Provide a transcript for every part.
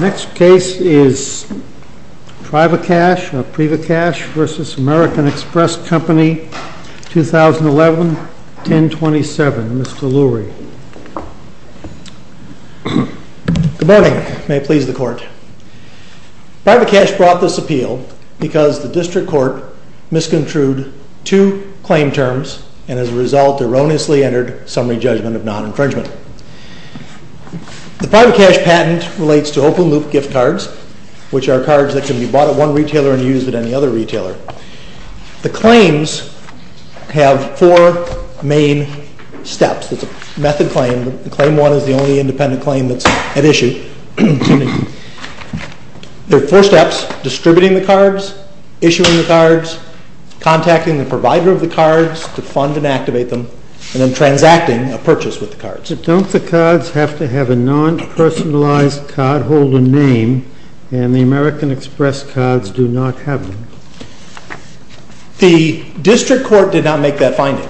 Next case is PRIVACASH v. AMERICAN EXPRESS COMPANY, 2011-1027. Mr. Lurie. Good morning. May it please the Court. PRIVACASH brought this appeal because the District Court misconstrued two claim terms and as a result erroneously entered summary judgment of non-infringement. The PRIVACASH patent relates to open-loop gift cards, which are cards that can be bought at one retailer and used at any other retailer. The claims have four main steps. It's a method claim, but Claim 1 is the only independent claim that's at issue. There are four steps, distributing the cards, issuing the cards, contacting the provider of the cards to fund and activate them, and then transacting a purchase with the cards. So don't the cards have to have a non-personalized card, hold a name, and the American Express cards do not have one? The District Court did not make that finding.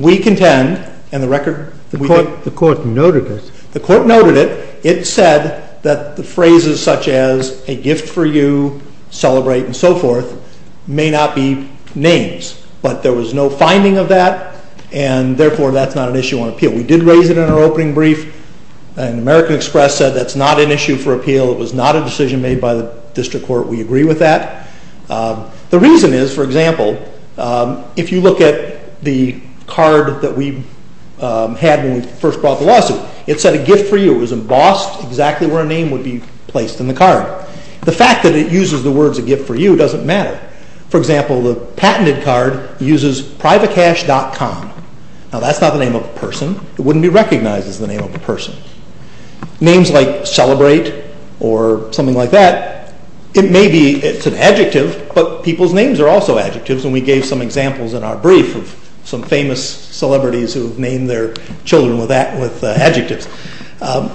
We contend, and the record— The Court noted it. The Court noted it. It said that the phrases such as a gift for you, celebrate, and so forth may not be names. But there was no finding of that, and therefore that's not an issue on appeal. We did raise it in our opening brief, and American Express said that's not an issue for appeal. It was not a decision made by the District Court. We agree with that. The reason is, for example, if you look at the card that we had when we first brought the lawsuit, it said a gift for you. It was embossed exactly where a name would be placed in the card. The fact that it uses the words a gift for you doesn't matter. For example, the patented card uses PRIVACASH.com. Now, that's not the name of a person. It wouldn't be recognized as the name of a person. Names like celebrate or something like that, it may be an adjective, but people's names are also adjectives, and we gave some examples in our brief of some famous celebrities who have named their children with adjectives.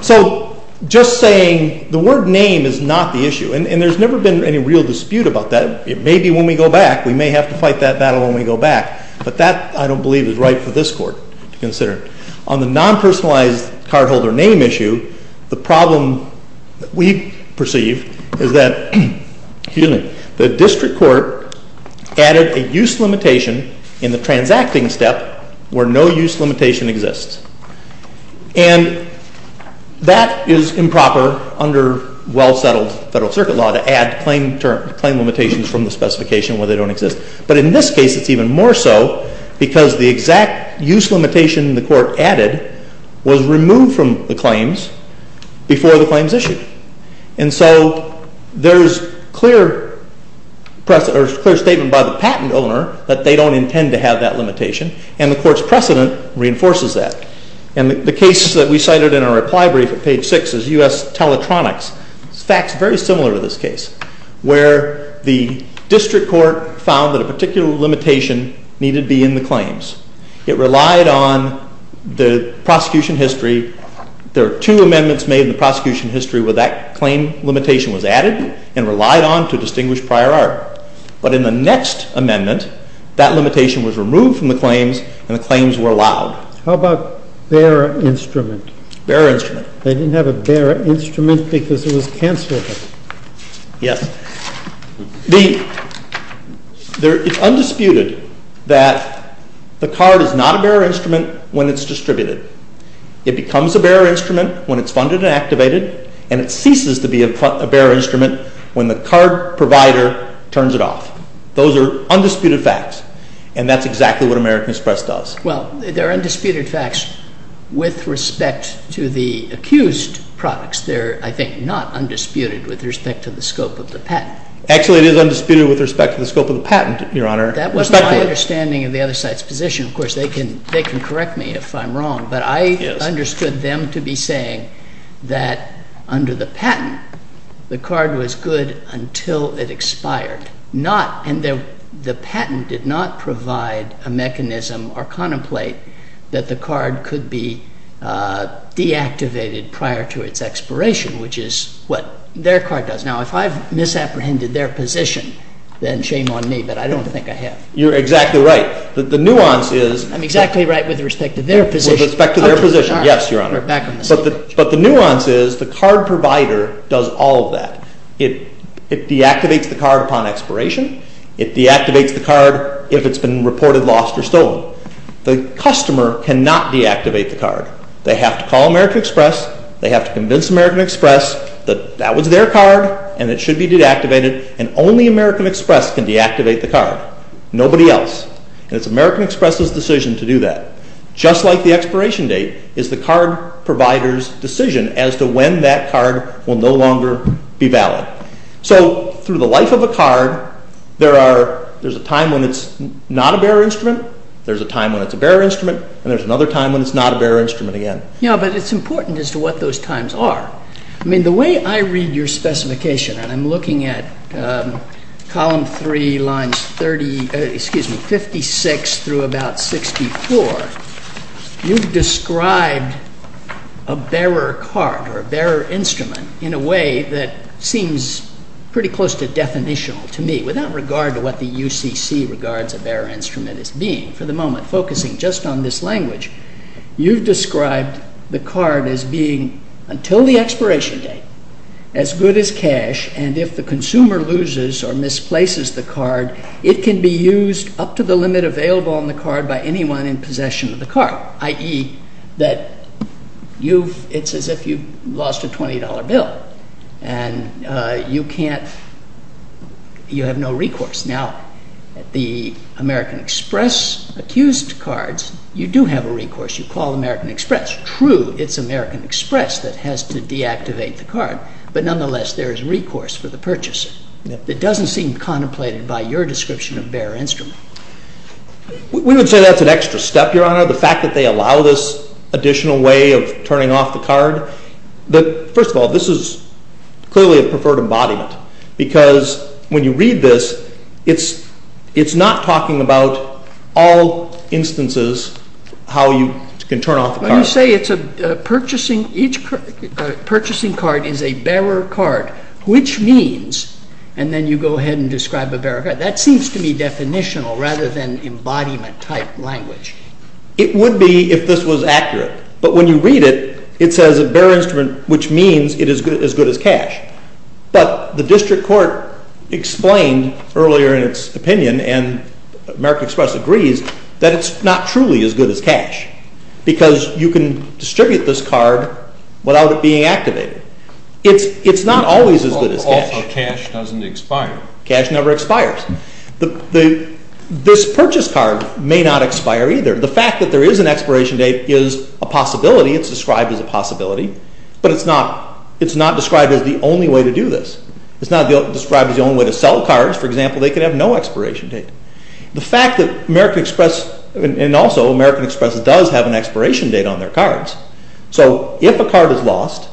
So just saying the word name is not the issue, and there's never been any real dispute about that. It may be when we go back. We may have to fight that battle when we go back. But that, I don't believe, is right for this Court to consider. On the non-personalized cardholder name issue, the problem we perceive is that the District Court added a use limitation in the transacting step where no use limitation exists. And that is improper under well-settled federal circuit law to add claim limitations from the specification where they don't exist. But in this case, it's even more so because the exact use limitation the Court added was removed from the claims before the claims issued. And so there's clear statement by the patent owner that they don't intend to have that limitation, and the Court's precedent reinforces that. And the case that we cited in our reply brief at page 6 is U.S. Teletronics. It's facts very similar to this case, where the District Court found that a particular limitation needed be in the claims. It relied on the prosecution history. There are two amendments made in the prosecution history where that claim limitation was added and relied on to distinguish prior art. But in the next amendment, that limitation was removed from the claims, and the claims were allowed. Bearer instrument. They didn't have a bearer instrument because it was canceled. Yes. It's undisputed that the card is not a bearer instrument when it's distributed. It becomes a bearer instrument when it's funded and activated, and it ceases to be a bearer instrument when the card provider turns it off. Those are undisputed facts, and that's exactly what American Express does. Well, they're undisputed facts with respect to the accused products. They're, I think, not undisputed with respect to the scope of the patent. Actually, it is undisputed with respect to the scope of the patent, Your Honor. That was my understanding of the other side's position. Of course, they can correct me if I'm wrong, but I understood them to be saying that under the patent, the card was good until it expired. The patent did not provide a mechanism or contemplate that the card could be deactivated prior to its expiration, which is what their card does. Now, if I've misapprehended their position, then shame on me, but I don't think I have. You're exactly right. The nuance is— I'm exactly right with respect to their position. With respect to their position, yes, Your Honor. But the nuance is the card provider does all of that. It deactivates the card upon expiration. It deactivates the card if it's been reported lost or stolen. The customer cannot deactivate the card. They have to call American Express. They have to convince American Express that that was their card and it should be deactivated. And only American Express can deactivate the card. Nobody else. And it's American Express's decision to do that. Just like the expiration date is the card provider's decision as to when that card will no longer be valid. So through the life of a card, there's a time when it's not a bearer instrument, there's a time when it's a bearer instrument, and there's another time when it's not a bearer instrument again. Yeah, but it's important as to what those times are. I mean, the way I read your specification, and I'm looking at Column 3, Lines 56 through about 64, you've described a bearer card or a bearer instrument in a way that seems pretty close to definitional to me, without regard to what the UCC regards a bearer instrument as being for the moment. I'm focusing just on this language. You've described the card as being, until the expiration date, as good as cash, and if the consumer loses or misplaces the card, it can be used up to the limit available on the card by anyone in possession of the card. I.e., it's as if you've lost a $20 bill and you have no recourse. Now, the American Express-accused cards, you do have a recourse. You call American Express. True, it's American Express that has to deactivate the card, but nonetheless, there is recourse for the purchaser. It doesn't seem contemplated by your description of bearer instrument. We would say that's an extra step, Your Honor. The fact that they allow this additional way of turning off the card, first of all, this is clearly a preferred embodiment, because when you read this, it's not talking about all instances how you can turn off the card. You say each purchasing card is a bearer card, which means, and then you go ahead and describe a bearer card. That seems to be definitional rather than embodiment-type language. It would be if this was accurate, but when you read it, it says a bearer instrument, which means it is as good as cash. But the district court explained earlier in its opinion, and American Express agrees, that it's not truly as good as cash, because you can distribute this card without it being activated. It's not always as good as cash. Also, cash doesn't expire. Cash never expires. This purchase card may not expire either. The fact that there is an expiration date is a possibility. It's described as a possibility, but it's not described as the only way to do this. It's not described as the only way to sell cards. For example, they could have no expiration date. The fact that American Express, and also American Express does have an expiration date on their cards, so if a card is lost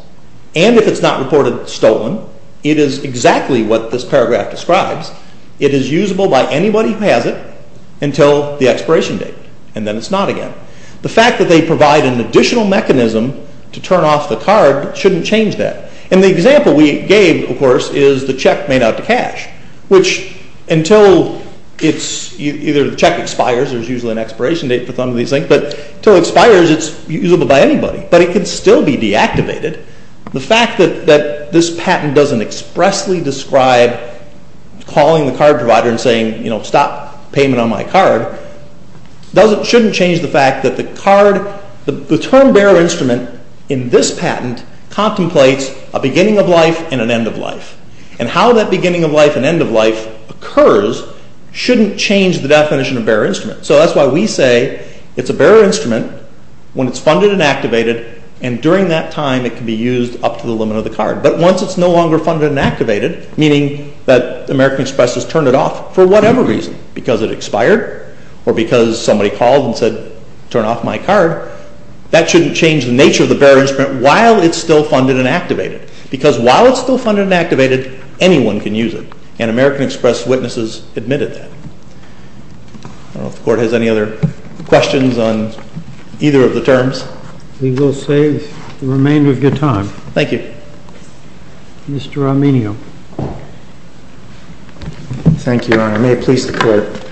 and if it's not reported stolen, it is exactly what this paragraph describes. It is usable by anybody who has it until the expiration date, and then it's not again. The fact that they provide an additional mechanism to turn off the card shouldn't change that. And the example we gave, of course, is the check made out to cash, which until either the check expires, there's usually an expiration date for some of these things, but until it expires, it's usable by anybody. But it can still be deactivated. The fact that this patent doesn't expressly describe calling the card provider and saying, you know, stop payment on my card, shouldn't change the fact that the card, the term bearer instrument in this patent contemplates a beginning of life and an end of life. And how that beginning of life and end of life occurs shouldn't change the definition of bearer instrument. So that's why we say it's a bearer instrument when it's funded and activated, and during that time it can be used up to the limit of the card. But once it's no longer funded and activated, meaning that American Express has turned it off for whatever reason, because it expired or because somebody called and said, turn off my card, that shouldn't change the nature of the bearer instrument while it's still funded and activated. Because while it's still funded and activated, anyone can use it, and American Express witnesses admitted that. I don't know if the Court has any other questions on either of the terms. We will save the remainder of your time. Thank you. Mr. Arminio. Thank you, Your Honor. May it please the Court.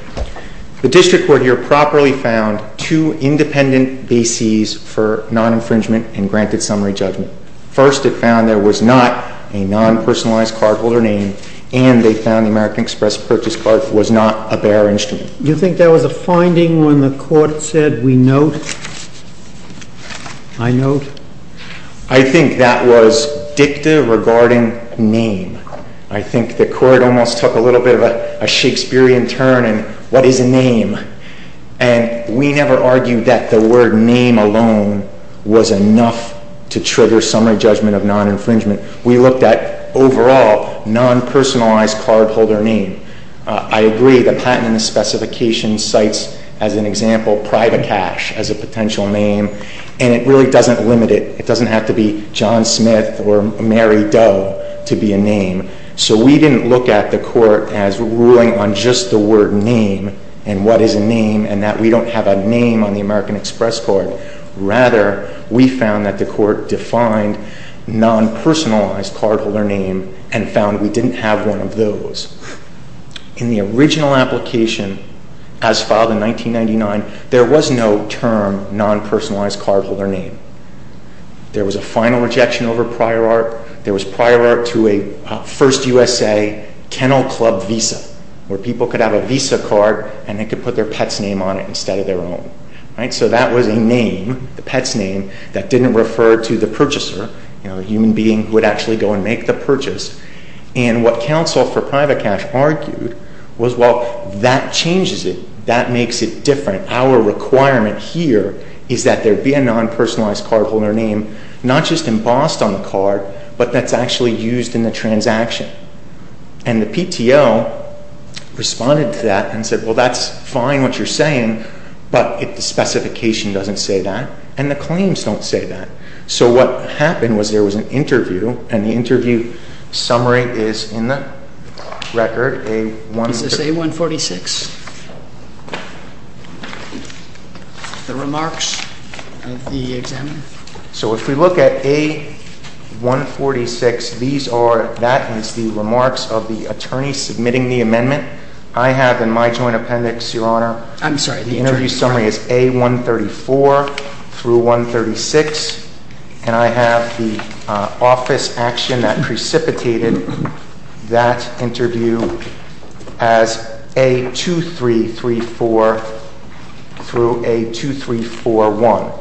The district court here properly found two independent bases for non-infringement and granted summary judgment. First, it found there was not a non-personalized cardholder name, and they found the American Express purchase card was not a bearer instrument. Do you think there was a finding when the Court said, we note, I note? I think that was dicta regarding name. I think the Court almost took a little bit of a Shakespearean turn in, what is a name? And we never argued that the word name alone was enough to trigger summary judgment of non-infringement. We looked at, overall, non-personalized cardholder name. I agree that Patent and Specification cites, as an example, private cash as a potential name, and it really doesn't limit it. It doesn't have to be John Smith or Mary Doe to be a name. So we didn't look at the Court as ruling on just the word name and what is a name and that we don't have a name on the American Express card. Rather, we found that the Court defined non-personalized cardholder name and found we didn't have one of those. In the original application, as filed in 1999, there was no term non-personalized cardholder name. There was a final rejection over prior art. There was prior art to a First USA Kennel Club Visa, where people could have a Visa card and they could put their pet's name on it instead of their own. So that was a name, the pet's name, that didn't refer to the purchaser. You know, a human being would actually go and make the purchase. And what counsel for private cash argued was, well, that changes it. That makes it different. Our requirement here is that there be a non-personalized cardholder name, not just embossed on the card, but that's actually used in the transaction. And the PTO responded to that and said, well, that's fine what you're saying, but the specification doesn't say that and the claims don't say that. So what happened was there was an interview and the interview summary is in the record. This is A-146? The remarks of the examiner? So if we look at A-146, these are, that is the remarks of the attorney submitting the amendment. I have in my joint appendix, Your Honor, the interview summary is A-134 through 136. And I have the office action that precipitated that interview as A-2334 through A-2341.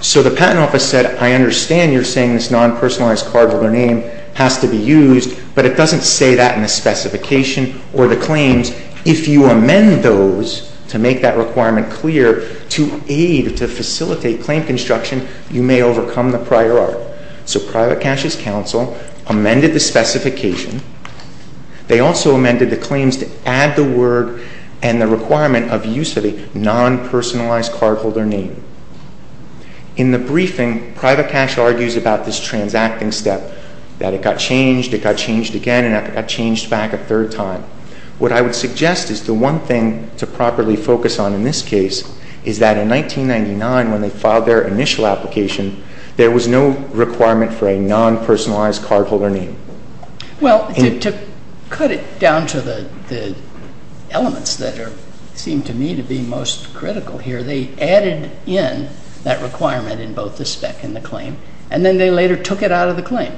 So the patent office said, I understand you're saying this non-personalized cardholder name has to be used, but it doesn't say that in the specification or the claims. If you amend those to make that requirement clear to aid, to facilitate claim construction, you may overcome the prior art. So Private Cash's counsel amended the specification. They also amended the claims to add the word and the requirement of use of a non-personalized cardholder name. In the briefing, Private Cash argues about this transacting step, that it got changed, it got changed again, and it got changed back a third time. What I would suggest is the one thing to properly focus on in this case is that in 1999, when they filed their initial application, there was no requirement for a non-personalized cardholder name. Well, to cut it down to the elements that seem to me to be most critical here, they added in that requirement in both the spec and the claim, and then they later took it out of the claim.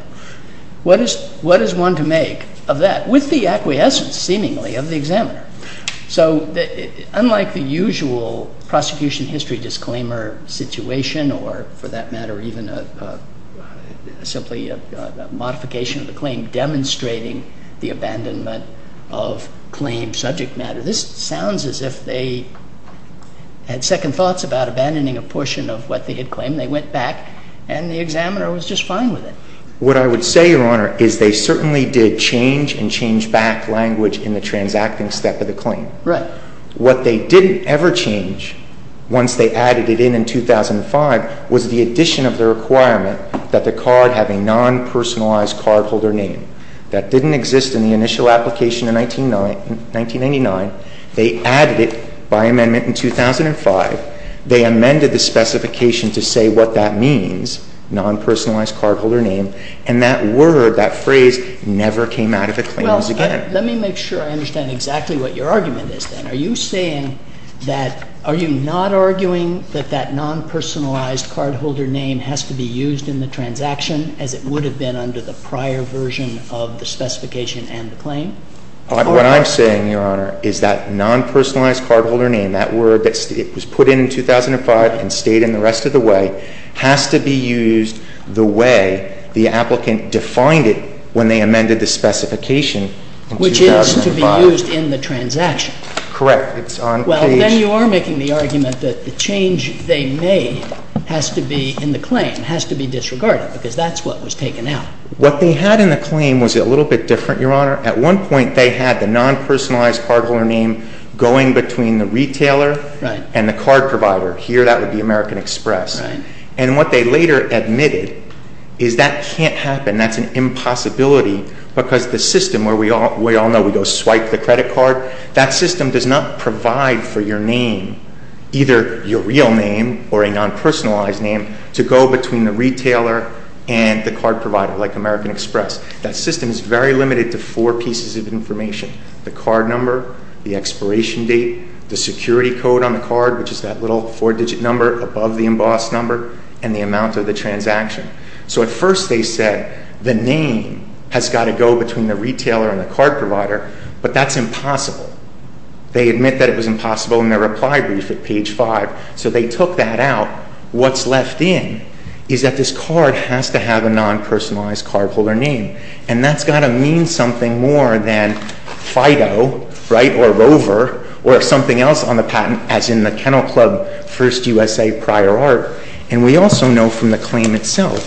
What is one to make of that, with the acquiescence, seemingly, of the examiner? So unlike the usual prosecution history disclaimer situation or, for that matter, even simply a modification of the claim demonstrating the abandonment of claimed subject matter, this sounds as if they had second thoughts about abandoning a portion of what they had claimed. They went back, and the examiner was just fine with it. What I would say, Your Honor, is they certainly did change and change back language in the transacting step of the claim. Right. What they didn't ever change, once they added it in in 2005, was the addition of the requirement that the card have a non-personalized cardholder name. That didn't exist in the initial application in 1999. They added it by amendment in 2005. They amended the specification to say what that means, non-personalized cardholder name. And that word, that phrase, never came out of the claims again. Well, let me make sure I understand exactly what your argument is then. Are you saying that – are you not arguing that that non-personalized cardholder name has to be used in the transaction as it would have been under the prior version of the specification and the claim? What I'm saying, Your Honor, is that non-personalized cardholder name, that word that was put in in 2005 and stayed in the rest of the way, has to be used the way the applicant defined it when they amended the specification in 2005. Which is to be used in the transaction. Correct. Well, then you are making the argument that the change they made has to be in the claim, has to be disregarded, because that's what was taken out. What they had in the claim was a little bit different, Your Honor. At one point, they had the non-personalized cardholder name going between the retailer and the card provider. Here, that would be American Express. And what they later admitted is that can't happen, that's an impossibility, because the system where we all know we go swipe the credit card, that system does not provide for your name, either your real name or a non-personalized name, to go between the retailer and the card provider, like American Express. That system is very limited to four pieces of information. The card number, the expiration date, the security code on the card, which is that little four-digit number above the embossed number, and the amount of the transaction. So at first they said the name has got to go between the retailer and the card provider, but that's impossible. They admit that it was impossible in their reply brief at page five, so they took that out. Now, what's left in is that this card has to have a non-personalized cardholder name, and that's got to mean something more than Fido, right, or Rover, or something else on the patent, as in the Kennel Club First USA Prior Art. And we also know from the claim itself,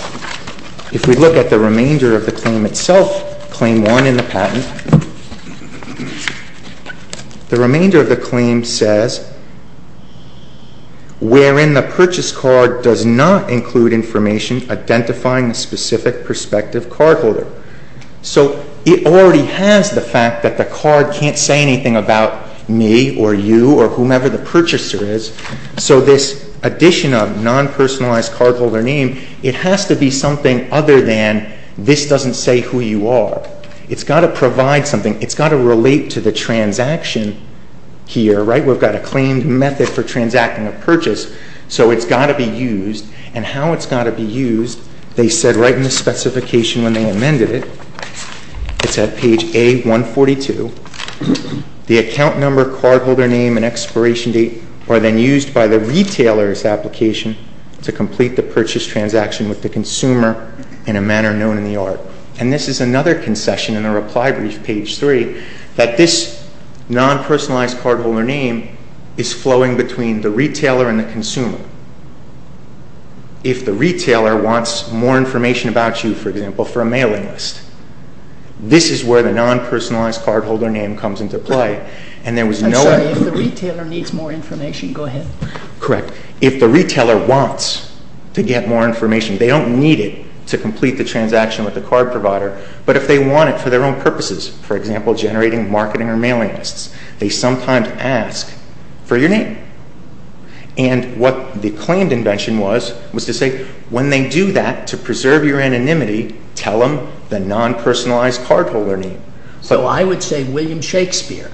if we look at the remainder of the claim itself, claim one in the patent, the remainder of the claim says, wherein the purchase card does not include information identifying the specific prospective cardholder. So it already has the fact that the card can't say anything about me or you or whomever the purchaser is, so this addition of non-personalized cardholder name, it has to be something other than this doesn't say who you are. It's got to provide something. It's got to relate to the transaction here, right? We've got a claimed method for transacting a purchase, so it's got to be used. And how it's got to be used, they said right in the specification when they amended it, it's at page A142, the account number, cardholder name, and expiration date are then used by the retailer's application to complete the purchase transaction with the consumer in a manner known in the art. And this is another concession in the reply brief, page 3, that this non-personalized cardholder name is flowing between the retailer and the consumer. If the retailer wants more information about you, for example, for a mailing list, this is where the non-personalized cardholder name comes into play. I'm sorry, if the retailer needs more information, go ahead. Correct. If the retailer wants to get more information, they don't need it to complete the transaction with the card provider, but if they want it for their own purposes, for example, generating marketing or mailing lists, they sometimes ask for your name. And what the claimed invention was, was to say when they do that, to preserve your anonymity, tell them the non-personalized cardholder name. So I would say William Shakespeare.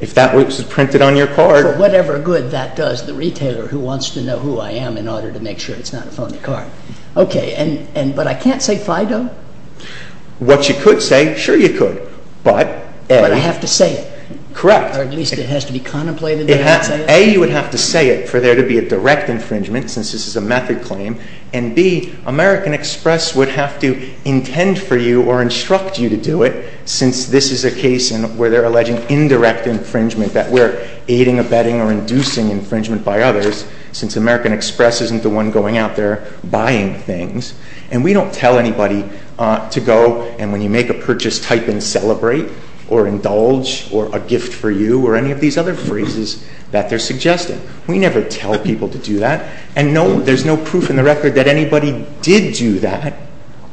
If that was printed on your card. For whatever good that does the retailer who wants to know who I am in order to make sure it's not a phony card. Okay, but I can't say Fido? What you could say, sure you could. But I have to say it? Correct. Or at least it has to be contemplated that I say it? A, you would have to say it for there to be a direct infringement, since this is a method claim, and B, American Express would have to intend for you or instruct you to do it, since this is a case where they're alleging indirect infringement, that we're aiding, abetting, or inducing infringement by others, since American Express isn't the one going out there buying things. And we don't tell anybody to go, and when you make a purchase, type in celebrate, or indulge, or a gift for you, or any of these other phrases that they're suggesting. We never tell people to do that. And there's no proof in the record that anybody did do that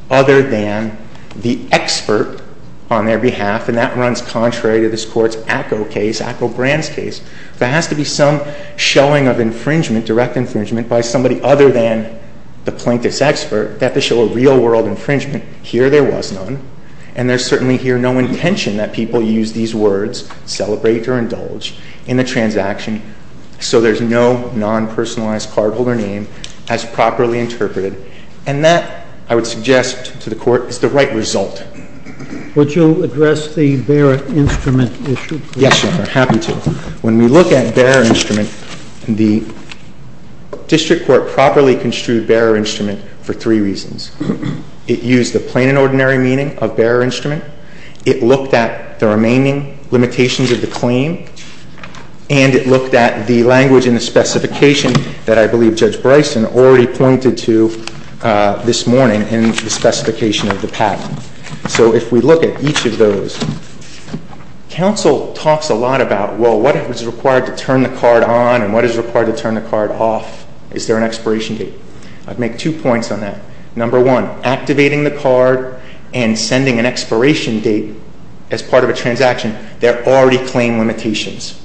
other than the expert on their behalf, and that runs contrary to this Court's ACCO case, ACCO Brand's case. There has to be some showing of infringement, direct infringement, by somebody other than the plaintiff's expert, that they show a real-world infringement. Here there was none, and there's certainly here no intention that people use these words, celebrate or indulge, in the transaction. So there's no non-personalized cardholder name as properly interpreted. And that, I would suggest to the Court, is the right result. Would you address the bearer instrument issue, please? Yes, Your Honor. I'm happy to. When we look at bearer instrument, the district court properly construed bearer instrument for three reasons. It used the plain and ordinary meaning of bearer instrument. It looked at the remaining limitations of the claim. And it looked at the language and the specification that I believe Judge Bryson already pointed to this morning in the specification of the patent. So if we look at each of those, counsel talks a lot about, well, what is required to turn the card on and what is required to turn the card off? Is there an expiration date? I'd make two points on that. Number one, activating the card and sending an expiration date as part of a transaction, there are already claim limitations.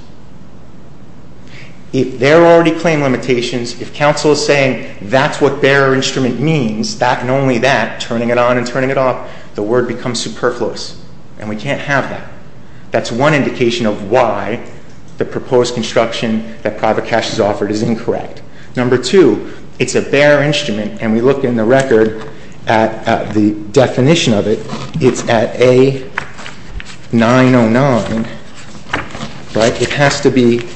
If there are already claim limitations, if counsel is saying that's what bearer instrument means, that and only that, turning it on and turning it off, the word becomes superfluous. And we can't have that. That's one indication of why the proposed construction that private cash has offered is incorrect. Number two, it's a bearer instrument, and we look in the record at the definition of it. It's at A-909, but it has to be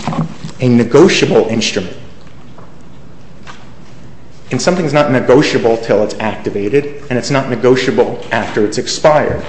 a negotiable instrument. And something is not negotiable until it's activated, and it's not negotiable after it's expired.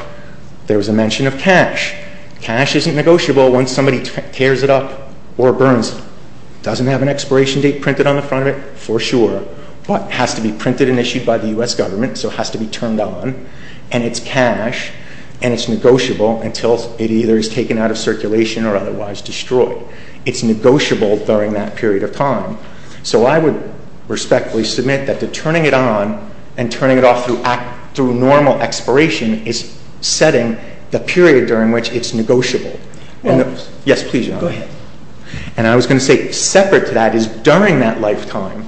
There was a mention of cash. Cash isn't negotiable once somebody tears it up or burns it. It doesn't have an expiration date printed on the front of it, for sure, but it has to be printed and issued by the U.S. government, so it has to be turned on. And it's cash, and it's negotiable until it either is taken out of circulation or otherwise destroyed. It's negotiable during that period of time. So I would respectfully submit that the turning it on and turning it off through normal expiration is setting the period during which it's negotiable. Yes, please, John. Go ahead. And I was going to say, separate to that is during that lifetime,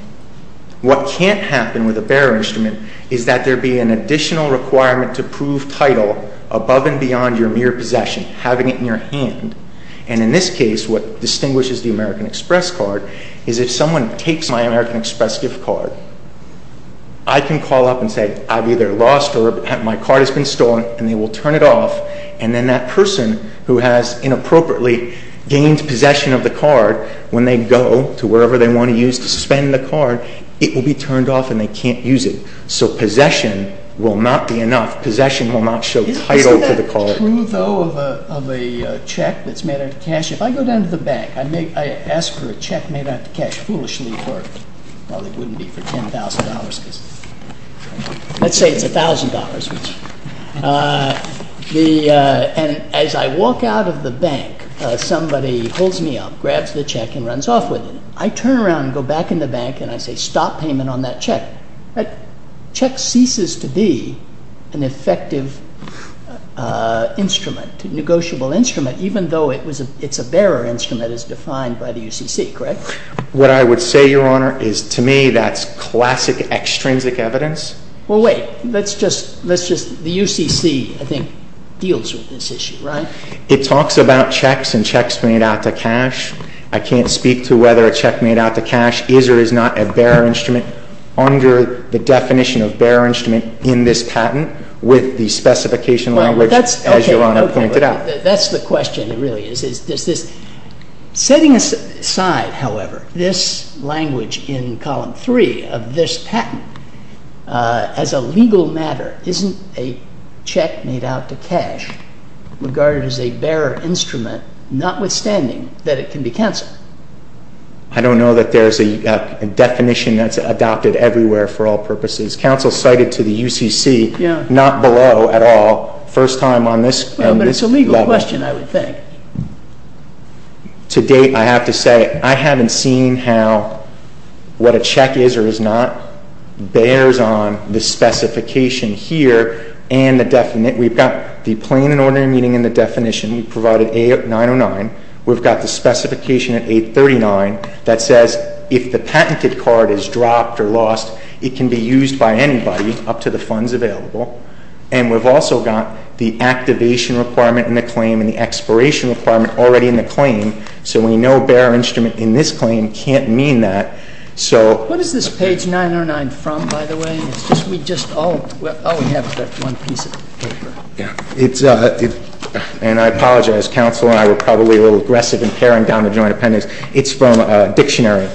what can't happen with a bearer instrument is that there be an additional requirement to prove title above and beyond your mere possession, having it in your hand. And in this case, what distinguishes the American Express card is if someone takes my American Express gift card, I can call up and say I've either lost or my card has been stolen, and they will turn it off, and then that person who has inappropriately gained possession of the card, when they go to wherever they want to use to suspend the card, it will be turned off and they can't use it. So possession will not be enough. Possession will not show title to the card. Isn't that true, though, of a check that's made out of cash? If I go down to the bank, I ask for a check made out of cash, foolishly, it probably wouldn't be for $10,000. Let's say it's $1,000. And as I walk out of the bank, somebody holds me up, grabs the check, and runs off with it. I turn around and go back in the bank, and I say stop payment on that check. The check ceases to be an effective instrument, a negotiable instrument, even though it's a bearer instrument as defined by the UCC, correct? What I would say, Your Honor, is to me that's classic extrinsic evidence. Well, wait. Let's just – the UCC, I think, deals with this issue, right? It talks about checks and checks made out of cash. I can't speak to whether a check made out of cash is or is not a bearer instrument. Under the definition of bearer instrument in this patent, with the specification language, as Your Honor pointed out. That's the question, it really is. Setting aside, however, this language in Column 3 of this patent, as a legal matter, isn't a check made out of cash regarded as a bearer instrument, notwithstanding that it can be canceled? I don't know that there's a definition that's adopted everywhere for all purposes. Counsel cited to the UCC, not below at all, first time on this level. Well, but it's a legal question, I would think. To date, I have to say, I haven't seen how what a check is or is not bears on the specification here. We've got the plain and ordinary meaning in the definition. We provided A-909. We've got the specification at 839 that says if the patented card is dropped or lost, it can be used by anybody up to the funds available. And we've also got the activation requirement in the claim and the expiration requirement already in the claim. So we know bearer instrument in this claim can't mean that. What is this page 909 from, by the way? We just all have one piece of paper. And I apologize. Counsel and I were probably a little aggressive in paring down the joint appendix. It's from a dictionary.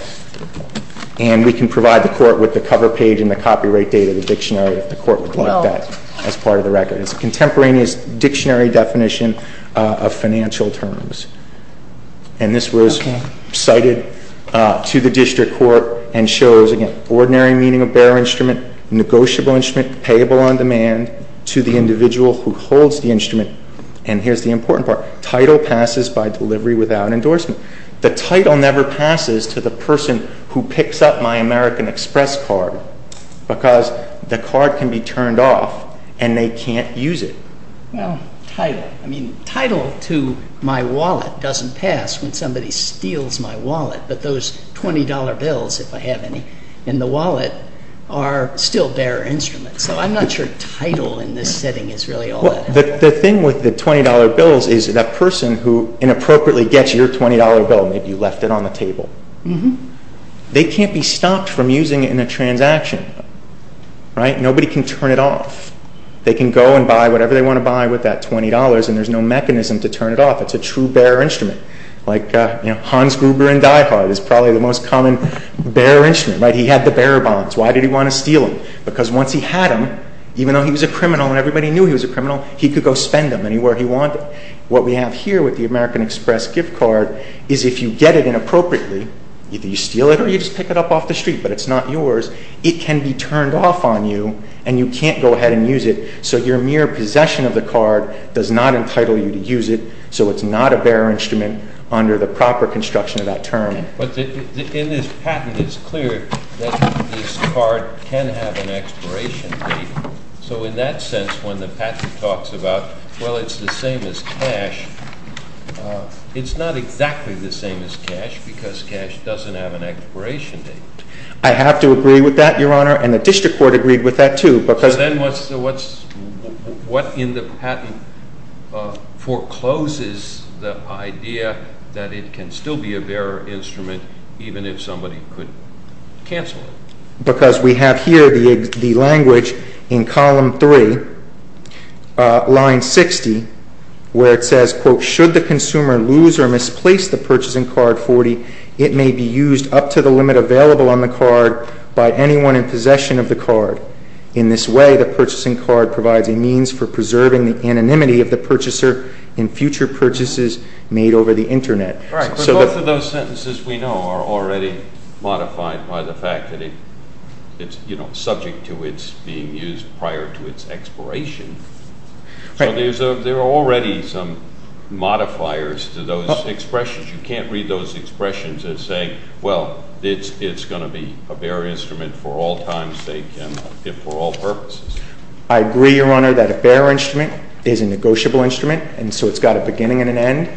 And we can provide the Court with the cover page and the copyright date of the dictionary if the Court would like that as part of the record. It's a contemporaneous dictionary definition of financial terms. And this was cited to the district court and shows, again, ordinary meaning of bearer instrument, negotiable instrument, payable on demand to the individual who holds the instrument. And here's the important part. Title passes by delivery without endorsement. The title never passes to the person who picks up my American Express card because the card can be turned off and they can't use it. Well, title. I mean, title to my wallet doesn't pass when somebody steals my wallet. But those $20 bills, if I have any, in the wallet are still bearer instruments. So I'm not sure title in this setting is really all that important. The thing with the $20 bills is that person who inappropriately gets your $20 bill, maybe you left it on the table, they can't be stopped from using it in a transaction. Nobody can turn it off. They can go and buy whatever they want to buy with that $20 and there's no mechanism to turn it off. It's a true bearer instrument. Like Hans Gruber in Die Hard is probably the most common bearer instrument. He had the bearer bonds. Why did he want to steal them? Because once he had them, even though he was a criminal and everybody knew he was a criminal, he could go spend them anywhere he wanted. What we have here with the American Express gift card is if you get it inappropriately, either you steal it or you just pick it up off the street, but it's not yours, it can be turned off on you and you can't go ahead and use it. So your mere possession of the card does not entitle you to use it, so it's not a bearer instrument under the proper construction of that term. But in this patent, it's clear that this card can have an expiration date. So in that sense, when the patent talks about, well, it's the same as cash, it's not exactly the same as cash because cash doesn't have an expiration date. I have to agree with that, Your Honor, and the district court agreed with that, too. So then what in the patent forecloses the idea that it can still be a bearer instrument even if somebody could cancel it? Because we have here the language in column 3, line 60, where it says, quote, should the consumer lose or misplace the purchasing card 40, it may be used up to the limit available on the card by anyone in possession of the card. In this way, the purchasing card provides a means for preserving the anonymity of the purchaser in future purchases made over the Internet. Both of those sentences we know are already modified by the fact that it's, you know, subject to its being used prior to its expiration. So there are already some modifiers to those expressions. You can't read those expressions and say, well, it's going to be a bearer instrument for all times, for all purposes. I agree, Your Honor, that a bearer instrument is a negotiable instrument, and so it's got a beginning and an end.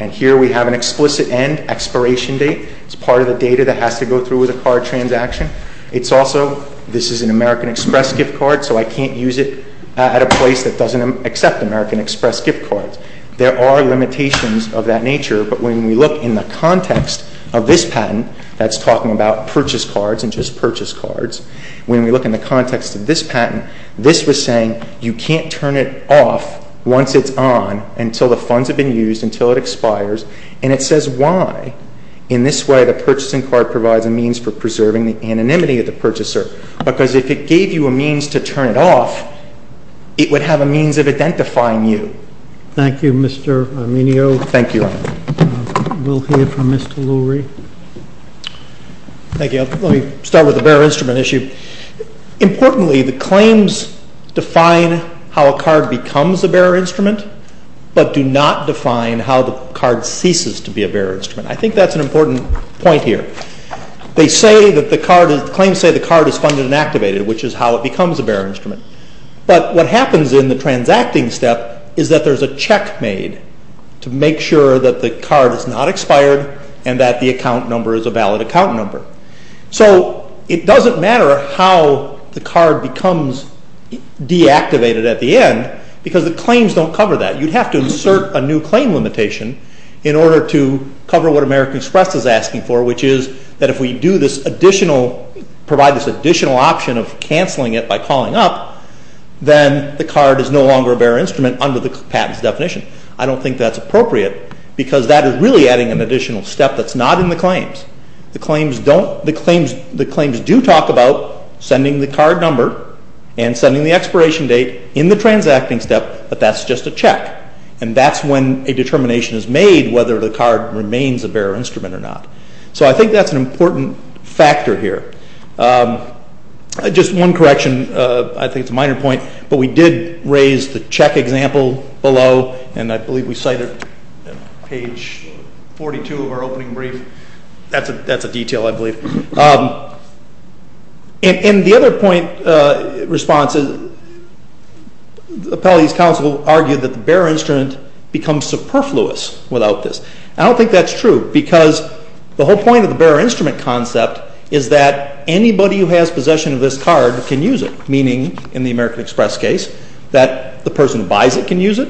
And here we have an explicit end, expiration date. It's part of the data that has to go through with a card transaction. It's also, this is an American Express gift card, so I can't use it at a place that doesn't accept American Express gift cards. There are limitations of that nature, but when we look in the context of this patent, that's talking about purchase cards and just purchase cards, when we look in the context of this patent, this was saying you can't turn it off once it's on until the funds have been used, until it expires. And it says why. In this way, the purchasing card provides a means for preserving the anonymity of the purchaser, because if it gave you a means to turn it off, it would have a means of identifying you. Thank you, Mr. Arminio. Thank you, Your Honor. We'll hear from Mr. Lurie. Thank you. Let me start with the bearer instrument issue. Importantly, the claims define how a card becomes a bearer instrument, but do not define how the card ceases to be a bearer instrument. I think that's an important point here. They say that the card, the claims say the card is funded and activated, which is how it becomes a bearer instrument. But what happens in the transacting step is that there's a check made to make sure that the card is not expired and that the account number is a valid account number. So it doesn't matter how the card becomes deactivated at the end, because the claims don't cover that. You'd have to insert a new claim limitation in order to cover what American Express is asking for, which is that if we provide this additional option of canceling it by calling up, then the card is no longer a bearer instrument under the patent's definition. I don't think that's appropriate because that is really adding an additional step that's not in the claims. The claims do talk about sending the card number and sending the expiration date in the transacting step, but that's just a check, and that's when a determination is made whether the card remains a bearer instrument or not. So I think that's an important factor here. Just one correction, I think it's a minor point, but we did raise the check example below, and I believe we cited page 42 of our opening brief. That's a detail, I believe. In the other point response, the Appellees' Council argued that the bearer instrument becomes superfluous without this. I don't think that's true because the whole point of the bearer instrument concept is that anybody who has possession of this card can use it, meaning, in the American Express case, that the person who buys it can use it,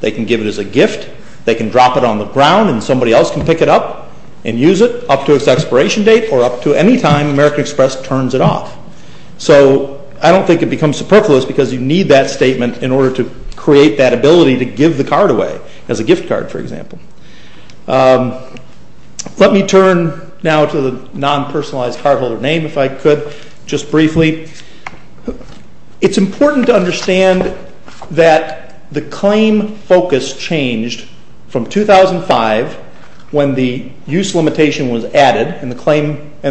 they can give it as a gift, they can drop it on the ground and somebody else can pick it up and use it up to its expiration date or up to any time American Express turns it off. So I don't think it becomes superfluous because you need that statement in order to create that ability to give the card away as a gift card, for example. Let me turn now to the non-personalized cardholder name, if I could, just briefly. It's important to understand that the claim focus changed from 2005, when the use limitation was added and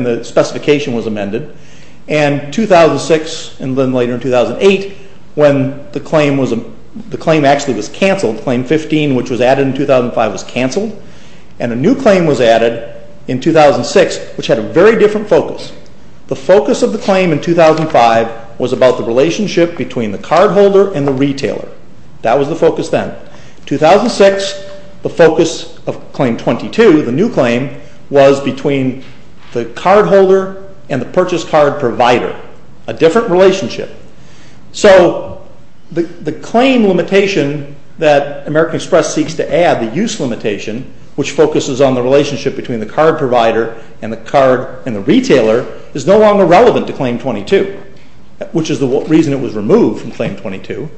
the specification was amended, and 2006 and then later in 2008 when the claim actually was cancelled, Claim 15, which was added in 2005, was cancelled, and a new claim was added in 2006, which had a very different focus. The focus of the claim in 2005 was about the relationship between the cardholder and the retailer. That was the focus then. In 2006, the focus of Claim 22, the new claim, was between the cardholder and the purchase card provider, a different relationship. So the claim limitation that American Express seeks to add, the use limitation, which focuses on the relationship between the card provider and the card and the retailer, is no longer relevant to Claim 22, which is the reason it was removed from Claim 22,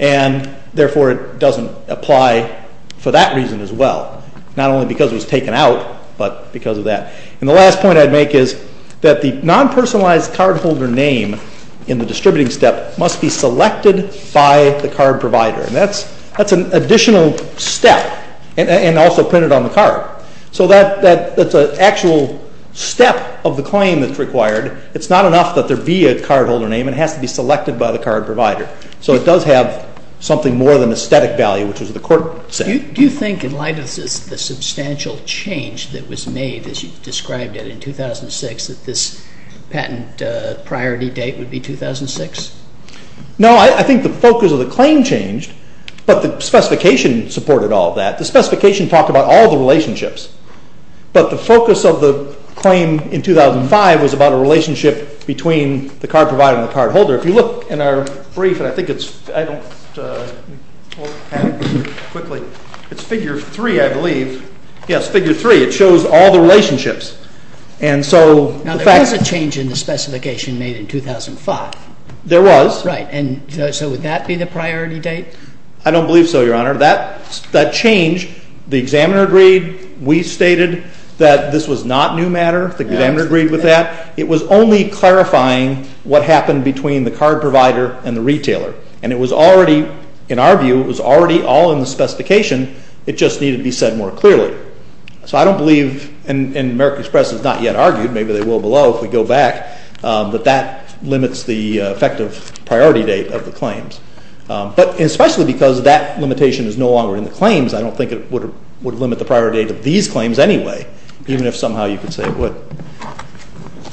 and therefore it doesn't apply for that reason as well. Not only because it was taken out, but because of that. The last point I'd make is that the non-personalized cardholder name in the distributing step must be selected by the card provider. That's an additional step, and also printed on the card. So that's an actual step of the claim that's required. It's not enough that there be a cardholder name. It has to be selected by the card provider. So it does have something more than a static value, which is what the court said. Do you think, in light of the substantial change that was made, as you described it in 2006, that this patent priority date would be 2006? No, I think the focus of the claim changed, but the specification supported all of that. The specification talked about all the relationships, but the focus of the claim in 2005 was about a relationship between the card provider and the cardholder. If you look in our brief, and I think it's—I don't—quickly. It's figure 3, I believe. Yes, figure 3. It shows all the relationships. Now, there was a change in the specification made in 2005. There was. Right. So would that be the priority date? I don't believe so, Your Honor. That change, the examiner agreed. We stated that this was not new matter. The examiner agreed with that. It was only clarifying what happened between the card provider and the retailer, and it was already, in our view, it was already all in the specification. It just needed to be said more clearly. So I don't believe, and American Express has not yet argued, maybe they will below if we go back, that that limits the effective priority date of the claims. But especially because that limitation is no longer in the claims, I don't think it would limit the priority date of these claims anyway, even if somehow you could say it would.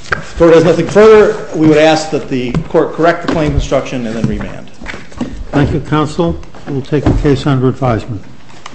If the Court has nothing further, we would ask that the Court correct the claim construction and then remand. Thank you, Counsel. We will take the case under advisement.